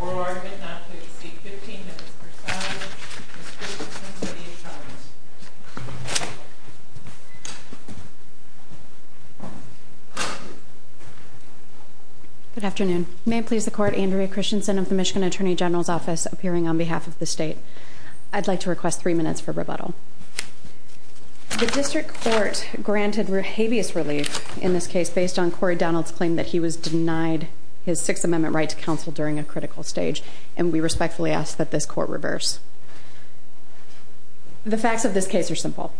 or are not to exceed 15 minutes per side. Good afternoon. May it please the court, Andrea Christensen of the Michigan Attorney General's Office appearing on behalf of the state. I'd like to request three minutes for rebuttal. The district court granted habeas relief in this case based on Cory Donald's claim that he was denied his Sixth Amendment right to counsel during a critical stage, and we respectfully ask that this court reverse. The facts of this case are simple.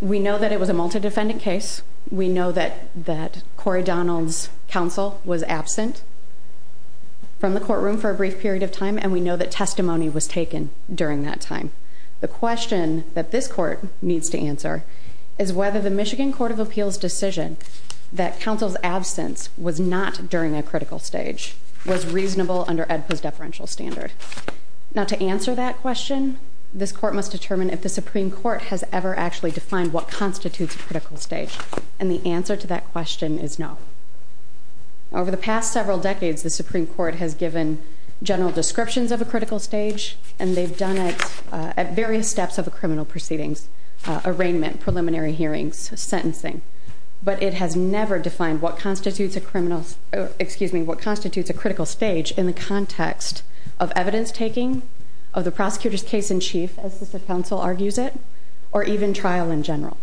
We know that it was a multidefendant case. We know that that Cory Donald's counsel was absent from the courtroom for a brief period of time, and we know that testimony was The question that this court needs to answer is whether the Michigan Court of Appeals decision that counsel's absence was not during a critical stage was reasonable under Edpus deferential standard. Not to answer that question, this court must determine if the Supreme Court has ever actually defined what constitutes a critical stage. And the answer to that question is no. Over the past several decades, the Supreme Court has given general at various steps of a criminal proceedings, arraignment, preliminary hearings, sentencing. But it has never defined what constitutes a criminal. Excuse me. What constitutes a critical stage in the context of evidence taking of the prosecutor's case in chief, as the council argues it, or even trial in general.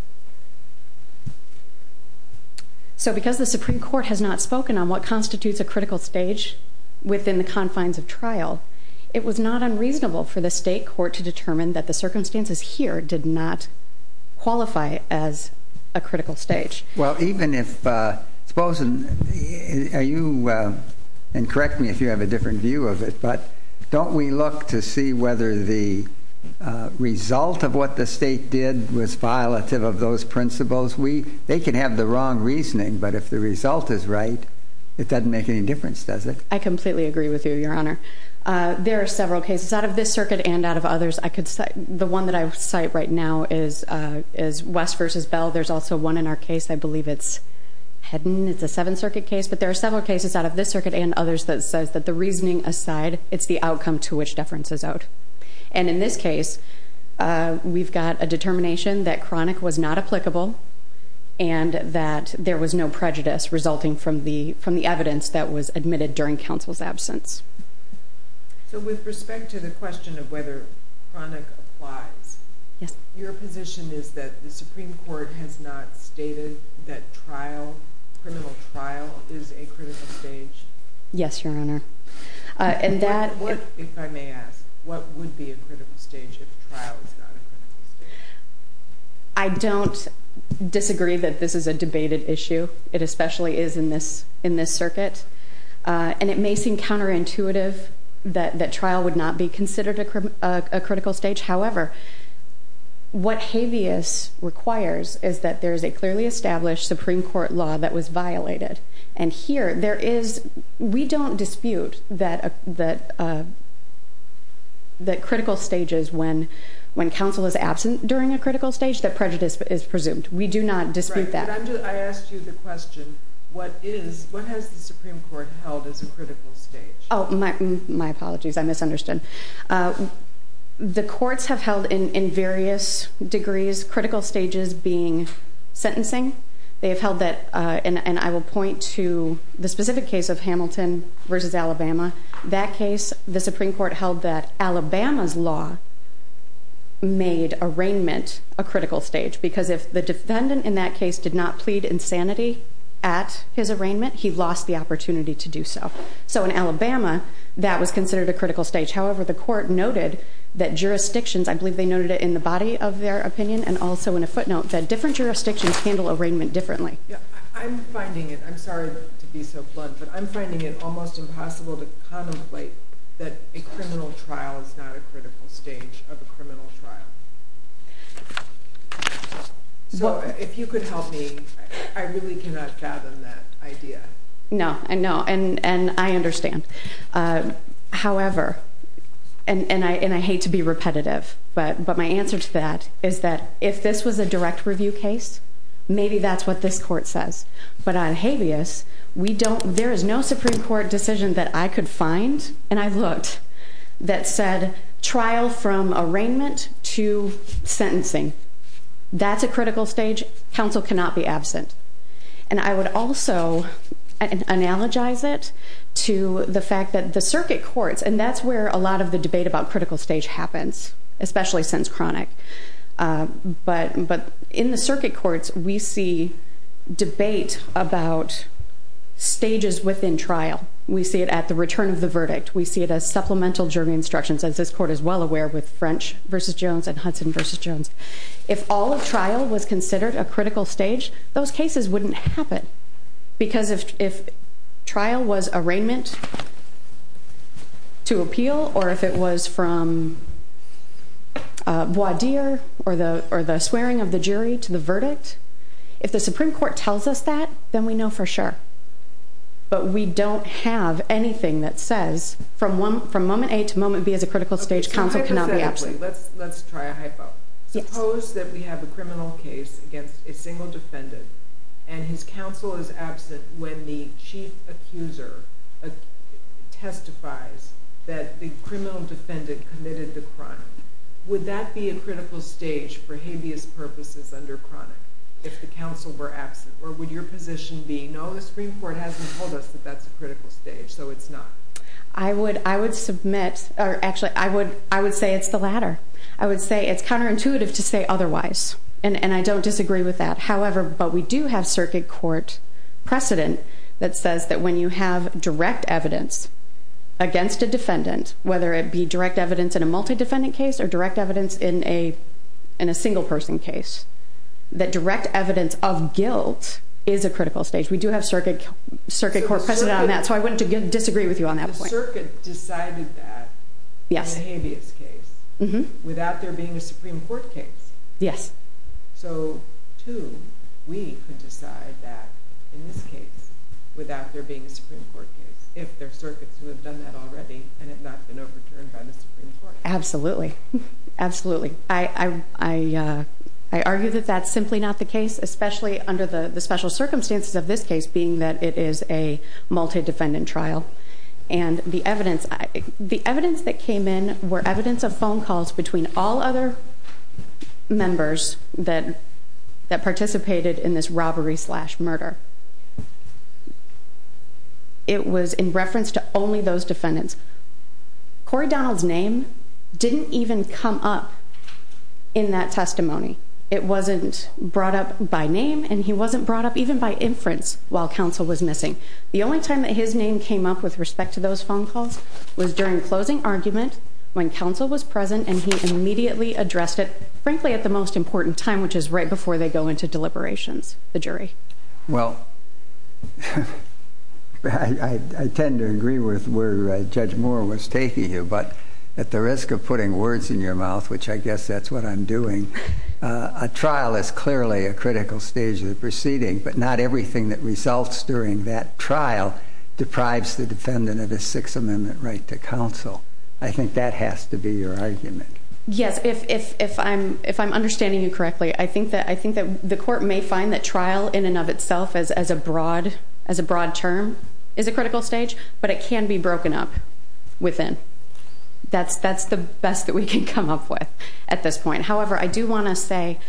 So because the Supreme Court has not spoken on what constitutes a critical stage within the confines of trial, it was not unreasonable for the state court to determine that the circumstances here did not qualify as a critical stage. Well, even if exposing you and correct me if you have a different view of it, but don't we look to see whether the result of what the state did was violative of those principles we they could have the wrong reasoning. But if the result is right, it doesn't make any difference, does it? I completely agree with you, Your Honor. There are several cases out of this circuit and out of others. I could say the one that I would cite right now is is West versus Bell. There's also one in our case. I believe it's hadn't. It's a Seventh Circuit case, but there are several cases out of this circuit and others that says that the reasoning aside, it's the outcome to which deference is out. And in this case, we've got a determination that chronic was not applicable and that there was no prejudice resulting from the from the evidence that was admitted during counsel's absence. So with respect to the question of whether chronic applies, your position is that the Supreme Court has not stated that trial criminal trial is a critical stage. Yes, Your Honor. And that if I may ask, what would be a critical stage? I don't disagree that this is a debated issue. It especially is in this in it may seem counterintuitive that that trial would not be considered a critical stage. However, what habeas requires is that there is a clearly established Supreme Court law that was violated. And here there is. We don't dispute that that the critical stages when when counsel is absent during a critical stage that prejudice is presumed. We do not dispute that. I asked you the question. What is what has the Supreme Court held as a critical stage? Oh, my my apologies. I misunderstood. Uh, the courts have held in various degrees critical stages being sentencing. They have held that on. I will point to the specific case of Hamilton versus Alabama. That case, the Supreme Court held that Alabama's law made arraignment a critical stage because if the defendant in that case did not plead insanity at his arraignment, he lost the opportunity to do so. So in Alabama, that was considered a critical stage. However, the court noted that jurisdictions, I believe they noted it in the body of their opinion and also in a footnote that different jurisdictions handle arraignment differently. I'm finding it. I'm sorry to be so blunt, but I'm finding it almost impossible to contemplate that a criminal trial is not a critical stage of a criminal trial. Yeah. So if you could help me, I really cannot fathom that idea. No, no. And I understand. Uh, however, and I hate to be repetitive, but my answer to that is that if this was a direct review case, maybe that's what this court says. But on habeas, we don't. There is no Supreme Court decision that I could find. And I looked that said trial from arraignment to sentencing. That's a critical stage. Council cannot be absent. And I would also analogize it to the fact that the circuit courts and that's where a lot of the debate about critical stage happens, especially since chronic. Uh, but but in the circuit courts, we see debate about stages within trial. We see it at the return of the verdict. We see it as supplemental jury instructions, as this court is well aware, with French versus Jones and Hudson versus Jones. If all of trial was considered a critical stage, those cases wouldn't happen because if if trial was arraignment to appeal or if it was from Bois Dear or the or the swearing of the jury to the verdict. If the Supreme Court tells us that, then we know for sure. But we don't have anything that says from one from moment eight moment B is a critical stage. Council cannot be absolutely. Let's let's try a hypo suppose that we have a criminal case against a single defendant and his counsel is absent when the chief accuser testifies that the criminal defendant committed the crime. Would that be a or would your position be? No, the Supreme Court hasn't told us that that's a critical stage, so it's not. I would. I would submit. Actually, I would. I would say it's the latter. I would say it's counterintuitive to say otherwise, and I don't disagree with that. However, but we do have circuit court precedent that says that when you have direct evidence against a defendant, whether it be direct evidence in a multi defendant case or direct evidence in a in a single person case, that direct evidence of guilt is a critical stage. We do have circuit circuit court precedent on that, so I went to disagree with you on that circuit. Decided that yes, habeas case without there being a Supreme Court case. Yes. So, too, we could decide that in this case without there being a Supreme Court case. If they're circuits who have done that already and have not been overturned absolutely. Absolutely. I argue that that's simply not the case, especially under the special circumstances of this case, being that it is a multi defendant trial and the evidence the evidence that came in were evidence of phone calls between all other members that that participated in this robbery slash murder. It was in reference to only those defendants. Corey Donald's name didn't even come up in that testimony. It wasn't brought up by name, and he wasn't brought up even by inference. While counsel was missing, the only time that his name came up with respect to those phone calls was during closing argument when counsel was present, and he immediately addressed it, frankly, at the most important time, which is right before they go into deliberations. The jury. Well, I tend to agree with where Judge Moore was taking you, but at the risk of putting words in your mouth, which I guess that's what I'm doing. Ah, trial is clearly a critical stage of the proceeding, but not everything that results during that trial deprives the defendant of his Sixth Amendment right to counsel. I think that has to be your argument. Yes, if if I'm if I'm may find that trial in and of itself as as a broad as a broad term is a critical stage, but it can be broken up within. That's that's the best that we can come up with at this point. However, I do want to say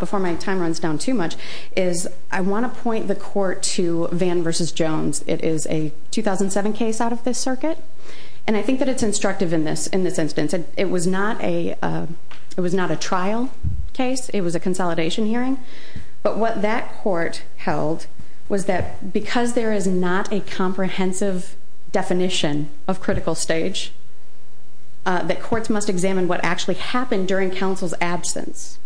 before my time runs down too much is I want to point the court to Van versus Jones. It is a 2000 and seven case out of this circuit, and I think that it's instructive in this. In this instance, it was not a it was not a trial case. It was a consolidation hearing. But what that court held was that because there is not a comprehensive definition of critical stage that courts must examine what actually happened during counsel's absence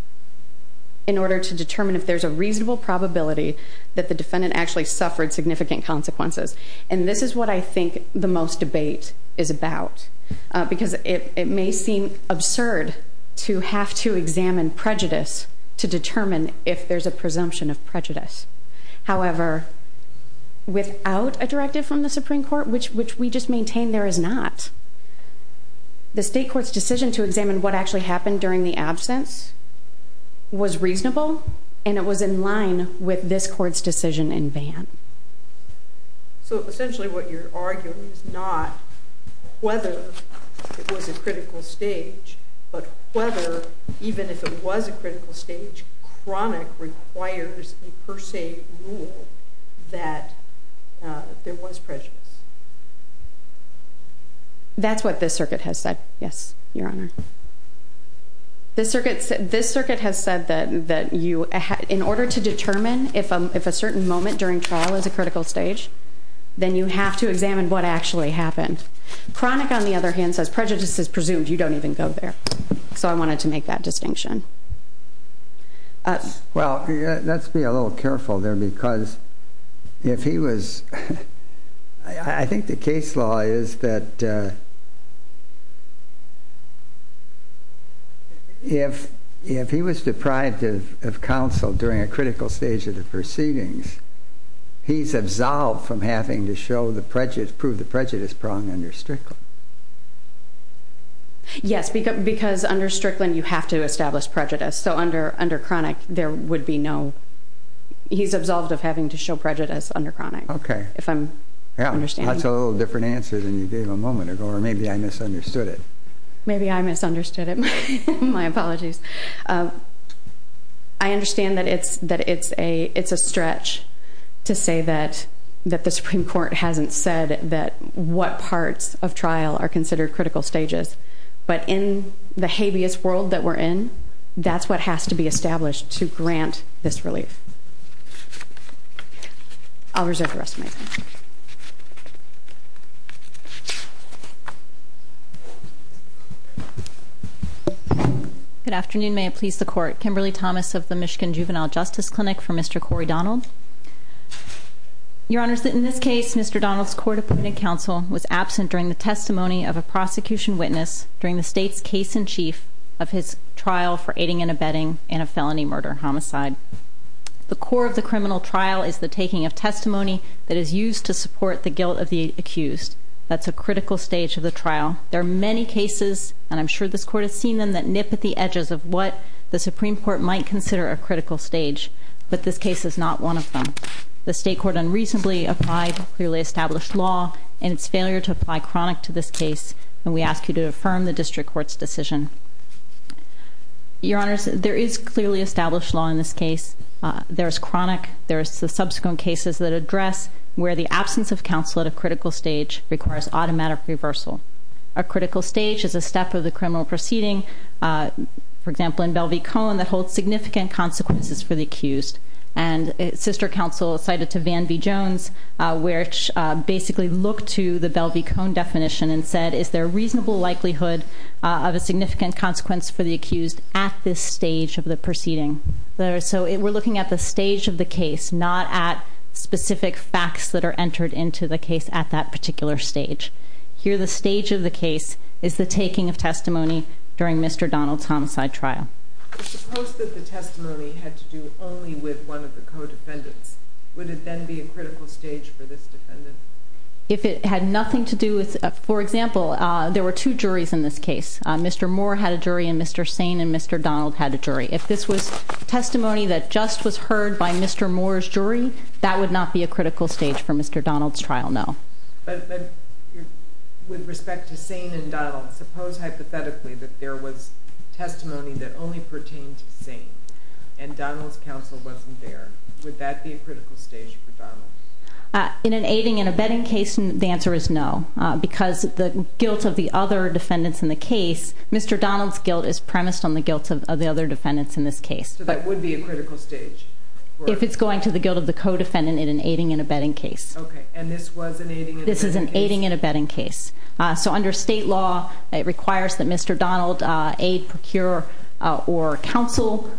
in order to determine if there's a reasonable probability that the defendant actually suffered significant consequences. And this is what I think the most debate is about because it may seem absurd to have to examine prejudice to determine if there's a presumption of prejudice. However, without a directive from the Supreme Court, which which we just maintain there is not the state court's decision to examine what actually happened during the absence was reasonable, and it was in line with this court's decision in Van. So essentially what you're arguing is not whether it was a critical stage, but whether even if it was a critical stage, chronic requires a per se rule that there was prejudice. That's what this circuit has said. Yes, Your Honor. This circuit, this circuit has said that that you in order to determine if I'm if a certain moment during trial is a critical stage, then you have to examine what actually happened. Chronic, on the other hand, says prejudice is so I wanted to make that distinction. Well, let's be a little careful there, because if he was, I think the case law is that if if he was deprived of counsel during a critical stage of the proceedings, he's absolved from having to show the prejudice proved the prejudice prong under strictly. Yes, because because under Strickland, you have to establish prejudice. So under under chronic, there would be no. He's absolved of having to show prejudice under chronic. Okay, if I'm understand, that's a little different answer than you gave a moment ago. Or maybe I misunderstood it. Maybe I misunderstood it. My apologies. I understand that it's that it's a It's a stretch to say that that the Supreme Court hasn't said that what parts of trial are considered critical stages. But in the habeas world that we're in, that's what has to be established to grant this relief. I'll reserve the rest of my time. Good afternoon. May it please the court. Kimberly Thomas of the Michigan Juvenile Justice Clinic for Mr Corey Donald. Your honor's that in this case, Mr Donald's court appointed counsel was absent during the testimony of a prosecution witness during the state's case in chief of his trial for aiding and abetting in a felony murder homicide. The core of the criminal trial is the taking of testimony that is used to support the guilt of the accused. That's a critical stage of the trial. There are many cases, and I'm sure this court has seen them that nip at the edges of what the Supreme Court might consider a critical stage. But this case is not one of them. The state court unreasonably applied, clearly established law and its failure to apply chronic to this case. And we ask you to affirm the district court's decision. Your honor's there is clearly established law in this case. There's chronic. There's the subsequent cases that address where the absence of counsel at a critical stage requires automatic reversal. A critical stage is the step of the criminal proceeding, for example, in Bellevue Cone that holds significant consequences for the accused. And sister counsel cited to Van B. Jones, which basically looked to the Bellevue Cone definition and said, is there a reasonable likelihood of a significant consequence for the accused at this stage of the proceeding? So we're looking at the stage of the case, not at specific facts that are entered into the case at that particular stage. Here, the stage of the case is the taking of testimony during Mr Donald's homicide trial. Testimony had to do only with one of the codefendants. Would it then be a critical stage for this? If it had nothing to do with, for example, there were two juries in this case. Mr Moore had a jury and Mr Sane and Mr Donald had a jury. If this was testimony that just was heard by Mr Moore's jury, that would not be a With respect to Sane and Donald, suppose hypothetically that there was testimony that only pertains to Sane and Donald's counsel wasn't there. Would that be a critical stage for Donald? In an aiding and abetting case? The answer is no, because the guilt of the other defendants in the case, Mr Donald's guilt is premised on the guilt of the other defendants in this case. So that would be a critical stage if it's going to the guilt of the codefendant in an aiding and abetting case. This is an aiding and abetting case. So under state law, it requires that Mr Donald aid, procure or counsel.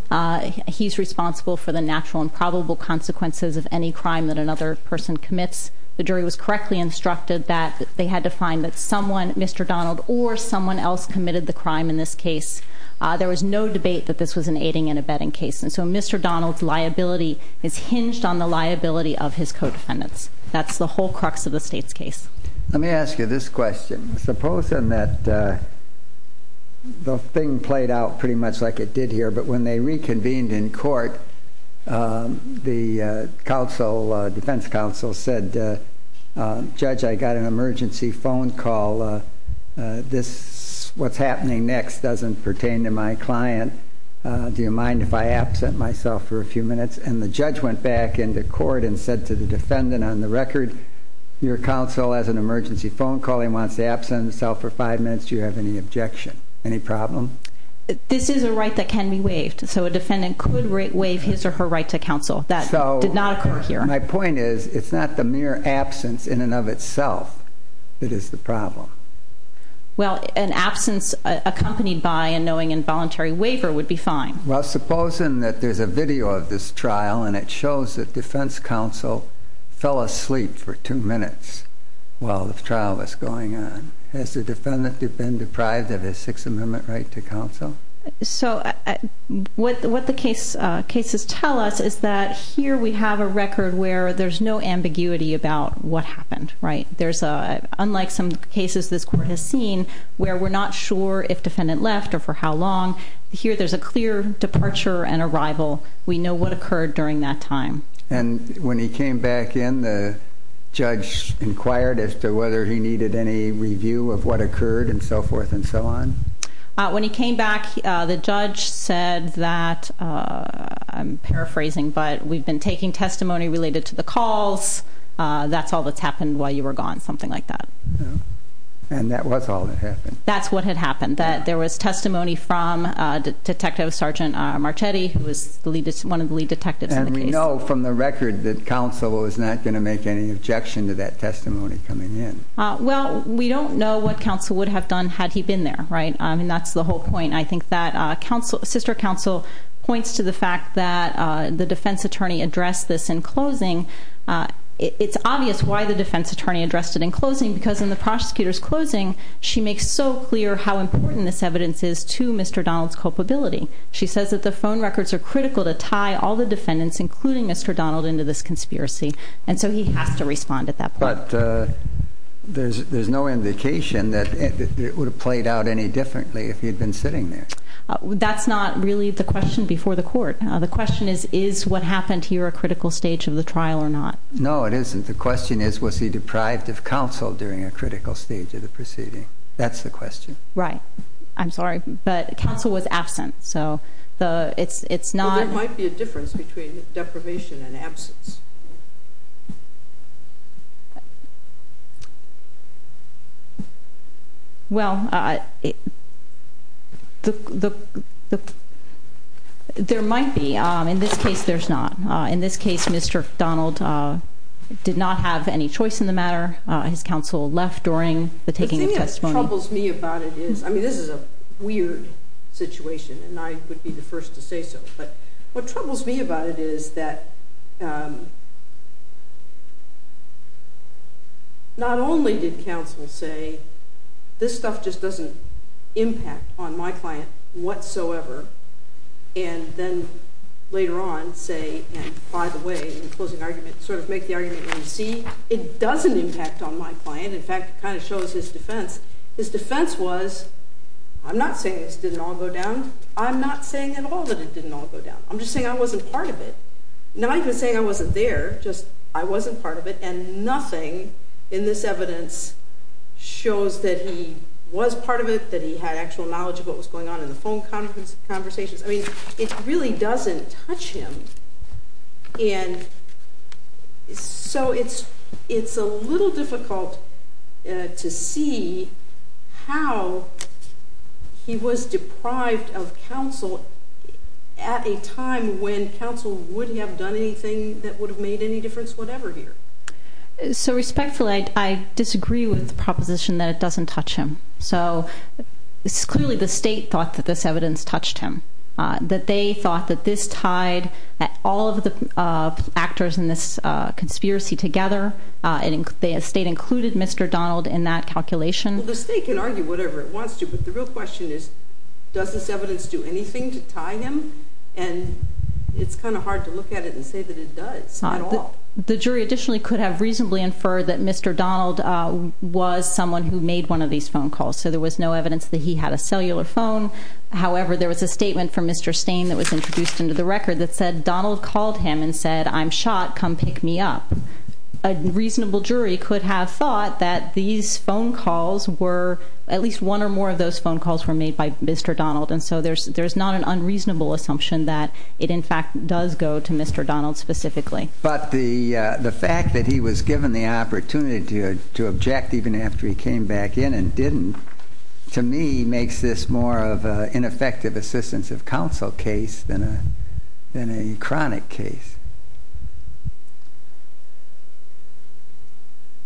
He's responsible for the natural and probable consequences of any crime that another person commits. The jury was correctly instructed that they had to find that someone, Mr Donald or someone else committed the crime. In this case, there was no debate that this was an aiding and abetting case. And so Mr Donald's liability is hinged on the liability of his codefendants. That's the whole crux of the state's case. Let me ask you this question. Supposing that the thing played out pretty much like it did here, but when they reconvened in court, the counsel, defense counsel said, Judge, I got an emergency phone call. This what's happening next doesn't pertain to my client. Do you mind if I absent myself for a few minutes? And the judge went back into court and said to the defendant on the record, your counsel has an emergency phone call. He wants to absent himself for five minutes. Do you have any objection? Any problem? This is a right that can be waived. So a defendant could waive his or her right to counsel that did not occur here. My point is, it's not the mere absence in and of itself. It is the problem. Well, an absence accompanied by and knowing involuntary waiver would be fine. Well, supposing that there's a video of this trial, and it shows that defense counsel fell asleep for two minutes while the trial was going on. Has the defendant been deprived of his Sixth Amendment right to counsel? So what the case cases tell us is that here we have a record where there's no ambiguity about what happened, right? There's a unlike some cases this court has seen where we're not sure if defendant left or for how long. Here there's a clear departure and arrival. We know what occurred during that time. And when he came back in, the judge inquired as to whether he needed any review of what occurred and so forth and so on. When he came back, the judge said that I'm paraphrasing, but we've been taking testimony related to the calls. That's all that's happened while you were gone, something like that. And that was all that happened. That's what had happened, that there was testimony from Detective Sergeant Marchetti, who was one of the lead detectives. And we know from the record that counsel is not gonna make any objection to that testimony coming in. Well, we don't know what counsel would have done had he been there, right? I mean, that's the whole point. I think that sister counsel points to the fact that the defense attorney addressed this in closing. It's obvious why the defense attorney addressed it in closing, because in the prosecutor's closing, she makes so clear how important this culpability. She says that the phone records are critical to tie all the defendants, including Mr Donald, into this conspiracy. And so he has to respond at that. But there's no indication that it would have played out any differently if he had been sitting there. That's not really the question before the court. The question is, is what happened here a critical stage of the trial or not? No, it isn't. The question is, was he deprived of counsel during a critical stage of the proceeding? That's the question, right? I'm sorry, but counsel was absent. So it's not. There might be a difference between deprivation and absence. Well, the there might be. In this case, there's not. In this case, Mr Donald, uh, did not have any choice in the matter. His counsel left during the taking of this is a weird situation, and I would be the first to say so. But what troubles me about it is that, um, not only did counsel say this stuff just doesn't impact on my client whatsoever. And then later on, say, by the way, in closing argument, sort of make the argument. You see, it doesn't impact on my client. In fact, kind of shows his defense. His defense was I'm not saying this didn't all go down. I'm not saying at all that it didn't all go down. I'm just saying I wasn't part of it. Not even saying I wasn't there. Just I wasn't part of it. And nothing in this evidence shows that he was part of it, that he had actual knowledge of what was going on in the phone conversations. I mean, it really doesn't touch him. And so it's it's a little difficult to see how he was deprived of counsel at a time when counsel wouldn't have done anything that would have made any difference. Whatever here. So respectfully, I disagree with the proposition that it doesn't touch him. So it's clearly the state thought that this evidence touched him, that they thought that this tied all of the actors in this conspiracy together. And the state included Mr Donald in that calculation. The state can argue whatever it wants to. But the real question is, does this evidence do anything to tie him? And it's kind of hard to look at it and say that it does. The jury additionally could have reasonably inferred that Mr Donald was someone who made one of these phone However, there was a statement from Mr Stain that was introduced into the record that said Donald called him and said, I'm shot. Come pick me up. A reasonable jury could have thought that these phone calls were at least one or more of those phone calls were made by Mr Donald. And so there's there's not an unreasonable assumption that it in fact does go to Mr Donald specifically. But the fact that he was given the opportunity to object even after he came back in and didn't, to me, makes this more of a ineffective assistance of counsel case than a than a chronic case.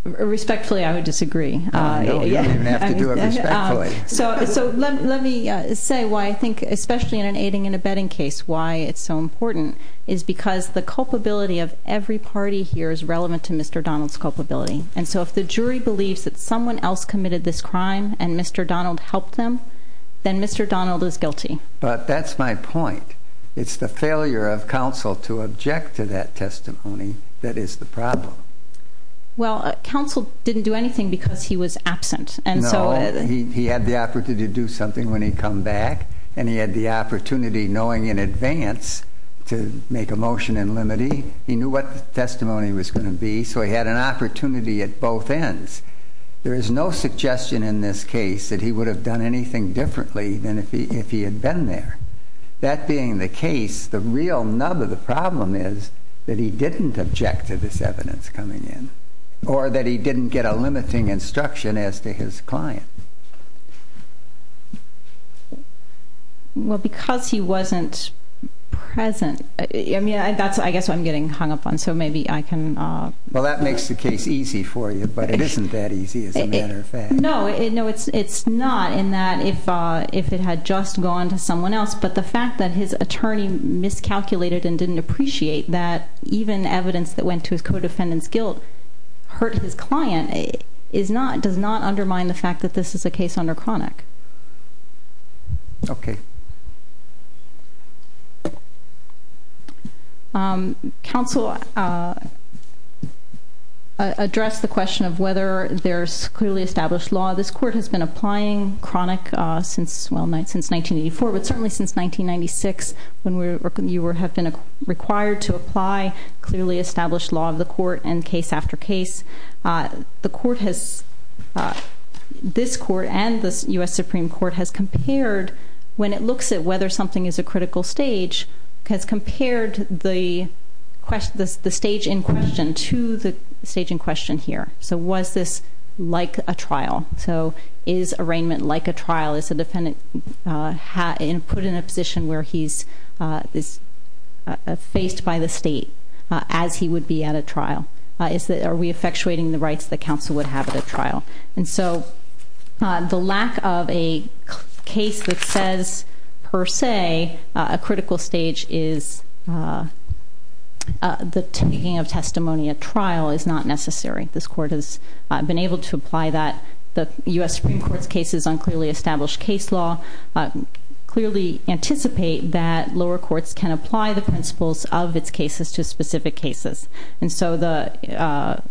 Respectfully, I would disagree. So let me say why I think, especially in an aiding and abetting case, why it's so important is because the culpability of every party here is relevant to Mr Donald's culpability. And so if the jury believes that someone else committed this crime and Mr Donald helped them, then Mr Donald is guilty. But that's my point. It's the failure of counsel to object to that testimony. That is the problem. Well, counsel didn't do anything because he was absent. And so he had the opportunity to do something when he come back and he had the opportunity, knowing in advance to make a motion and limiting. He knew what testimony was going to be, so he had an opportunity at both ends. There is no suggestion in this case that he would have done anything differently than if he if he had been there. That being the case, the real nub of the problem is that he didn't object to this evidence coming in or that he didn't get a limiting instruction as to his client. Well, because he wasn't present, I mean, that's I guess I'm getting hung up on. So maybe I can. Well, that makes the case easy for you, but it isn't that easy. As a matter of fact, no, no, it's it's not in that if if it had just gone to someone else, but the fact that his attorney miscalculated and didn't appreciate that even evidence that went to his co defendant's guilt hurt his client is not, does not undermine the fact that this is a case under chronic. Okay. Um, counsel, uh, address the question of whether there's clearly established law. This court has been applying chronic since well, since 1984, but certainly since 1996. When we were, you were have been required to apply clearly established law of the court has, uh, this court and the U. S. Supreme Court has compared when it looks at whether something is a critical stage has compared the question this the stage in question to the stage in question here. So was this like a trial? So is arraignment like a trial? Is the defendant, uh, put in a position where he's, uh, faced by the state as he would be at a trial? Is that are we effectuating the rights that counsel would have at a trial? And so, uh, the lack of a case that says, per se, a critical stage is, uh, the taking of testimony at trial is not necessary. This court has been able to apply that the U. S. Supreme Court's cases on clearly established case law, clearly anticipate that lower courts can apply the principles of its cases to so the, uh,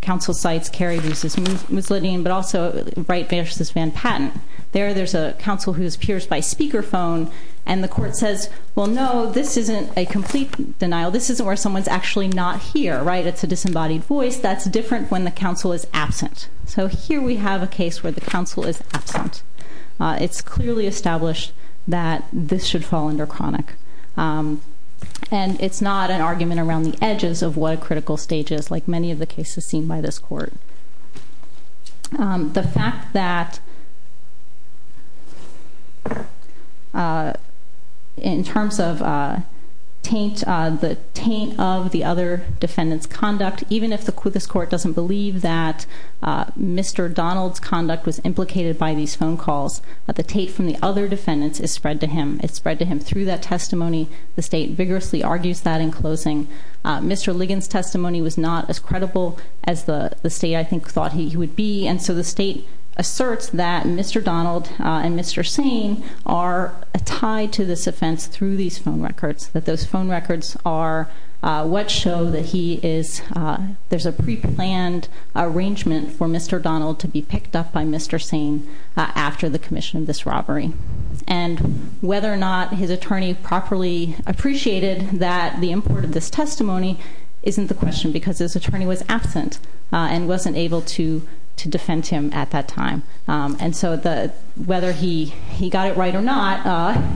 council sites carry this is misleading, but also right versus Van Patten. There there's a council who's peers by speaker phone, and the court says, Well, no, this isn't a complete denial. This is where someone's actually not here, right? It's a disembodied voice that's different when the council is absent. So here we have a case where the council is absent. It's clearly established that this should fall under chronic. Um, and it's not an edges of what a critical stages like many of the cases seen by this court. Um, the fact that uh, in terms of, uh, taint the taint of the other defendants conduct, even if the quickest court doesn't believe that Mr Donald's conduct was implicated by these phone calls at the tape from the other defendants is spread to him. It's spread to him through that testimony. The state vigorously argues that in Mr Ligon's testimony was not as credible as the state, I think, thought he would be. And so the state asserts that Mr Donald and Mr Sane are tied to this offense through these phone records that those phone records are what show that he is. There's a pre planned arrangement for Mr Donald to be picked up by Mr Sane after the commission of this robbery and whether or not his this testimony isn't the question because his attorney was absent and wasn't able to to defend him at that time. Um, and so the whether he he got it right or not,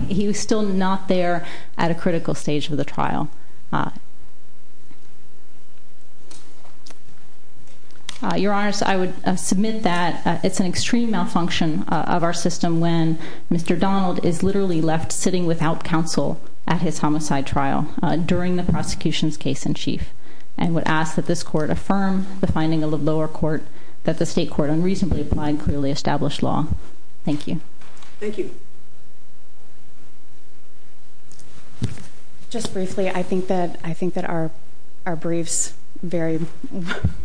he was still not there at a critical stage of the trial. Your honors, I would submit that it's an extreme malfunction of our system when Mr Donald is literally left sitting without counsel at his homicide trial during the prosecution's case in chief and would ask that this court affirm the finding of the lower court that the state court unreasonably applying clearly established law. Thank you. Thank you. Just briefly, I think that I think that are our briefs very,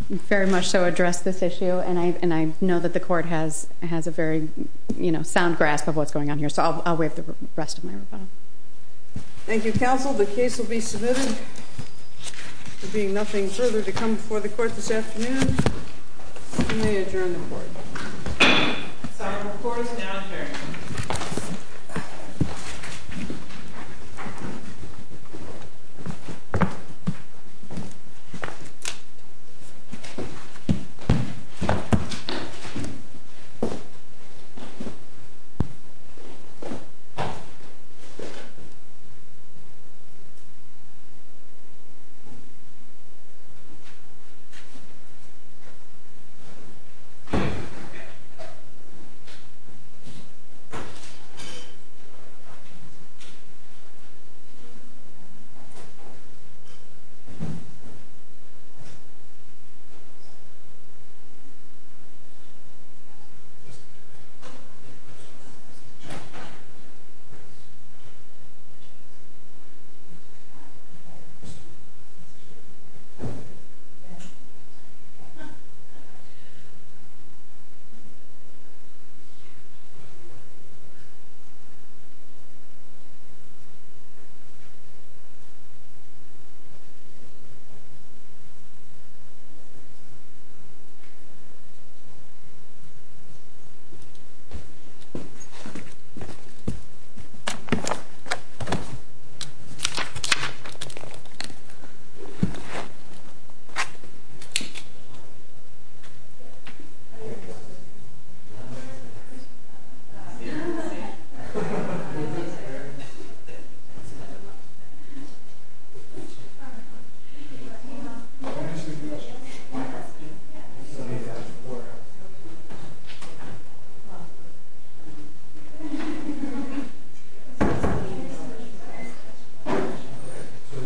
very much so address this issue. And I and I know that the court has has a very, you know, sound grasp of what's going on here. So I'll wait the rest of my time. Thank you, Counsel. The case will be submitted being nothing further to come before the court this afternoon. You may adjourn the court. Sorry, of course. Yeah.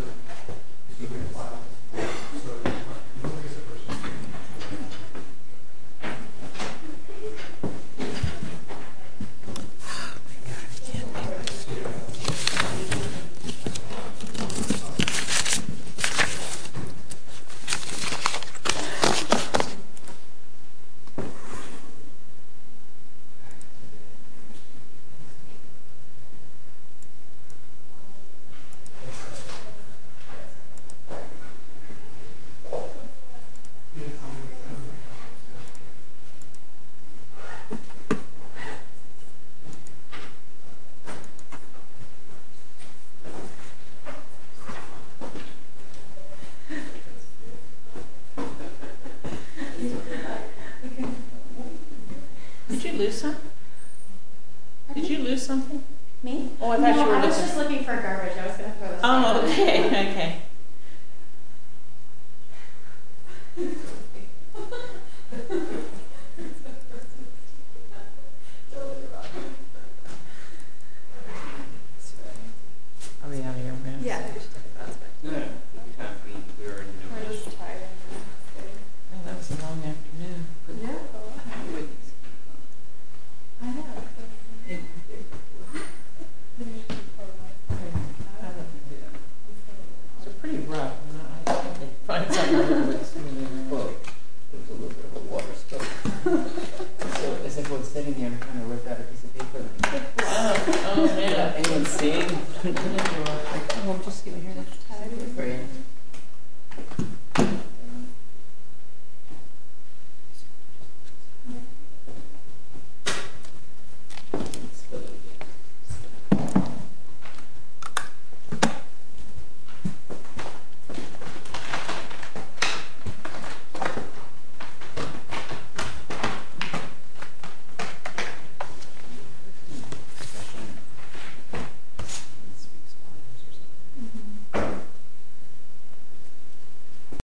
Yeah. Yeah. Yeah. Yeah. Yeah. Yeah. All right. Yeah. Yeah. Yeah. Yeah. Yeah. Yeah. Yeah. Yeah. Yeah. Yeah. Yeah. Yeah. Yeah. Did you lose? Did you lose something me? I was just looking for garbage. Oh, okay. Okay. Yeah. Yeah. It's a pretty rough. There's a little bit of a water. As if what's sitting here kind of worked out a piece of paper. Oh, yeah. Just give me here. Okay. Mm hmm.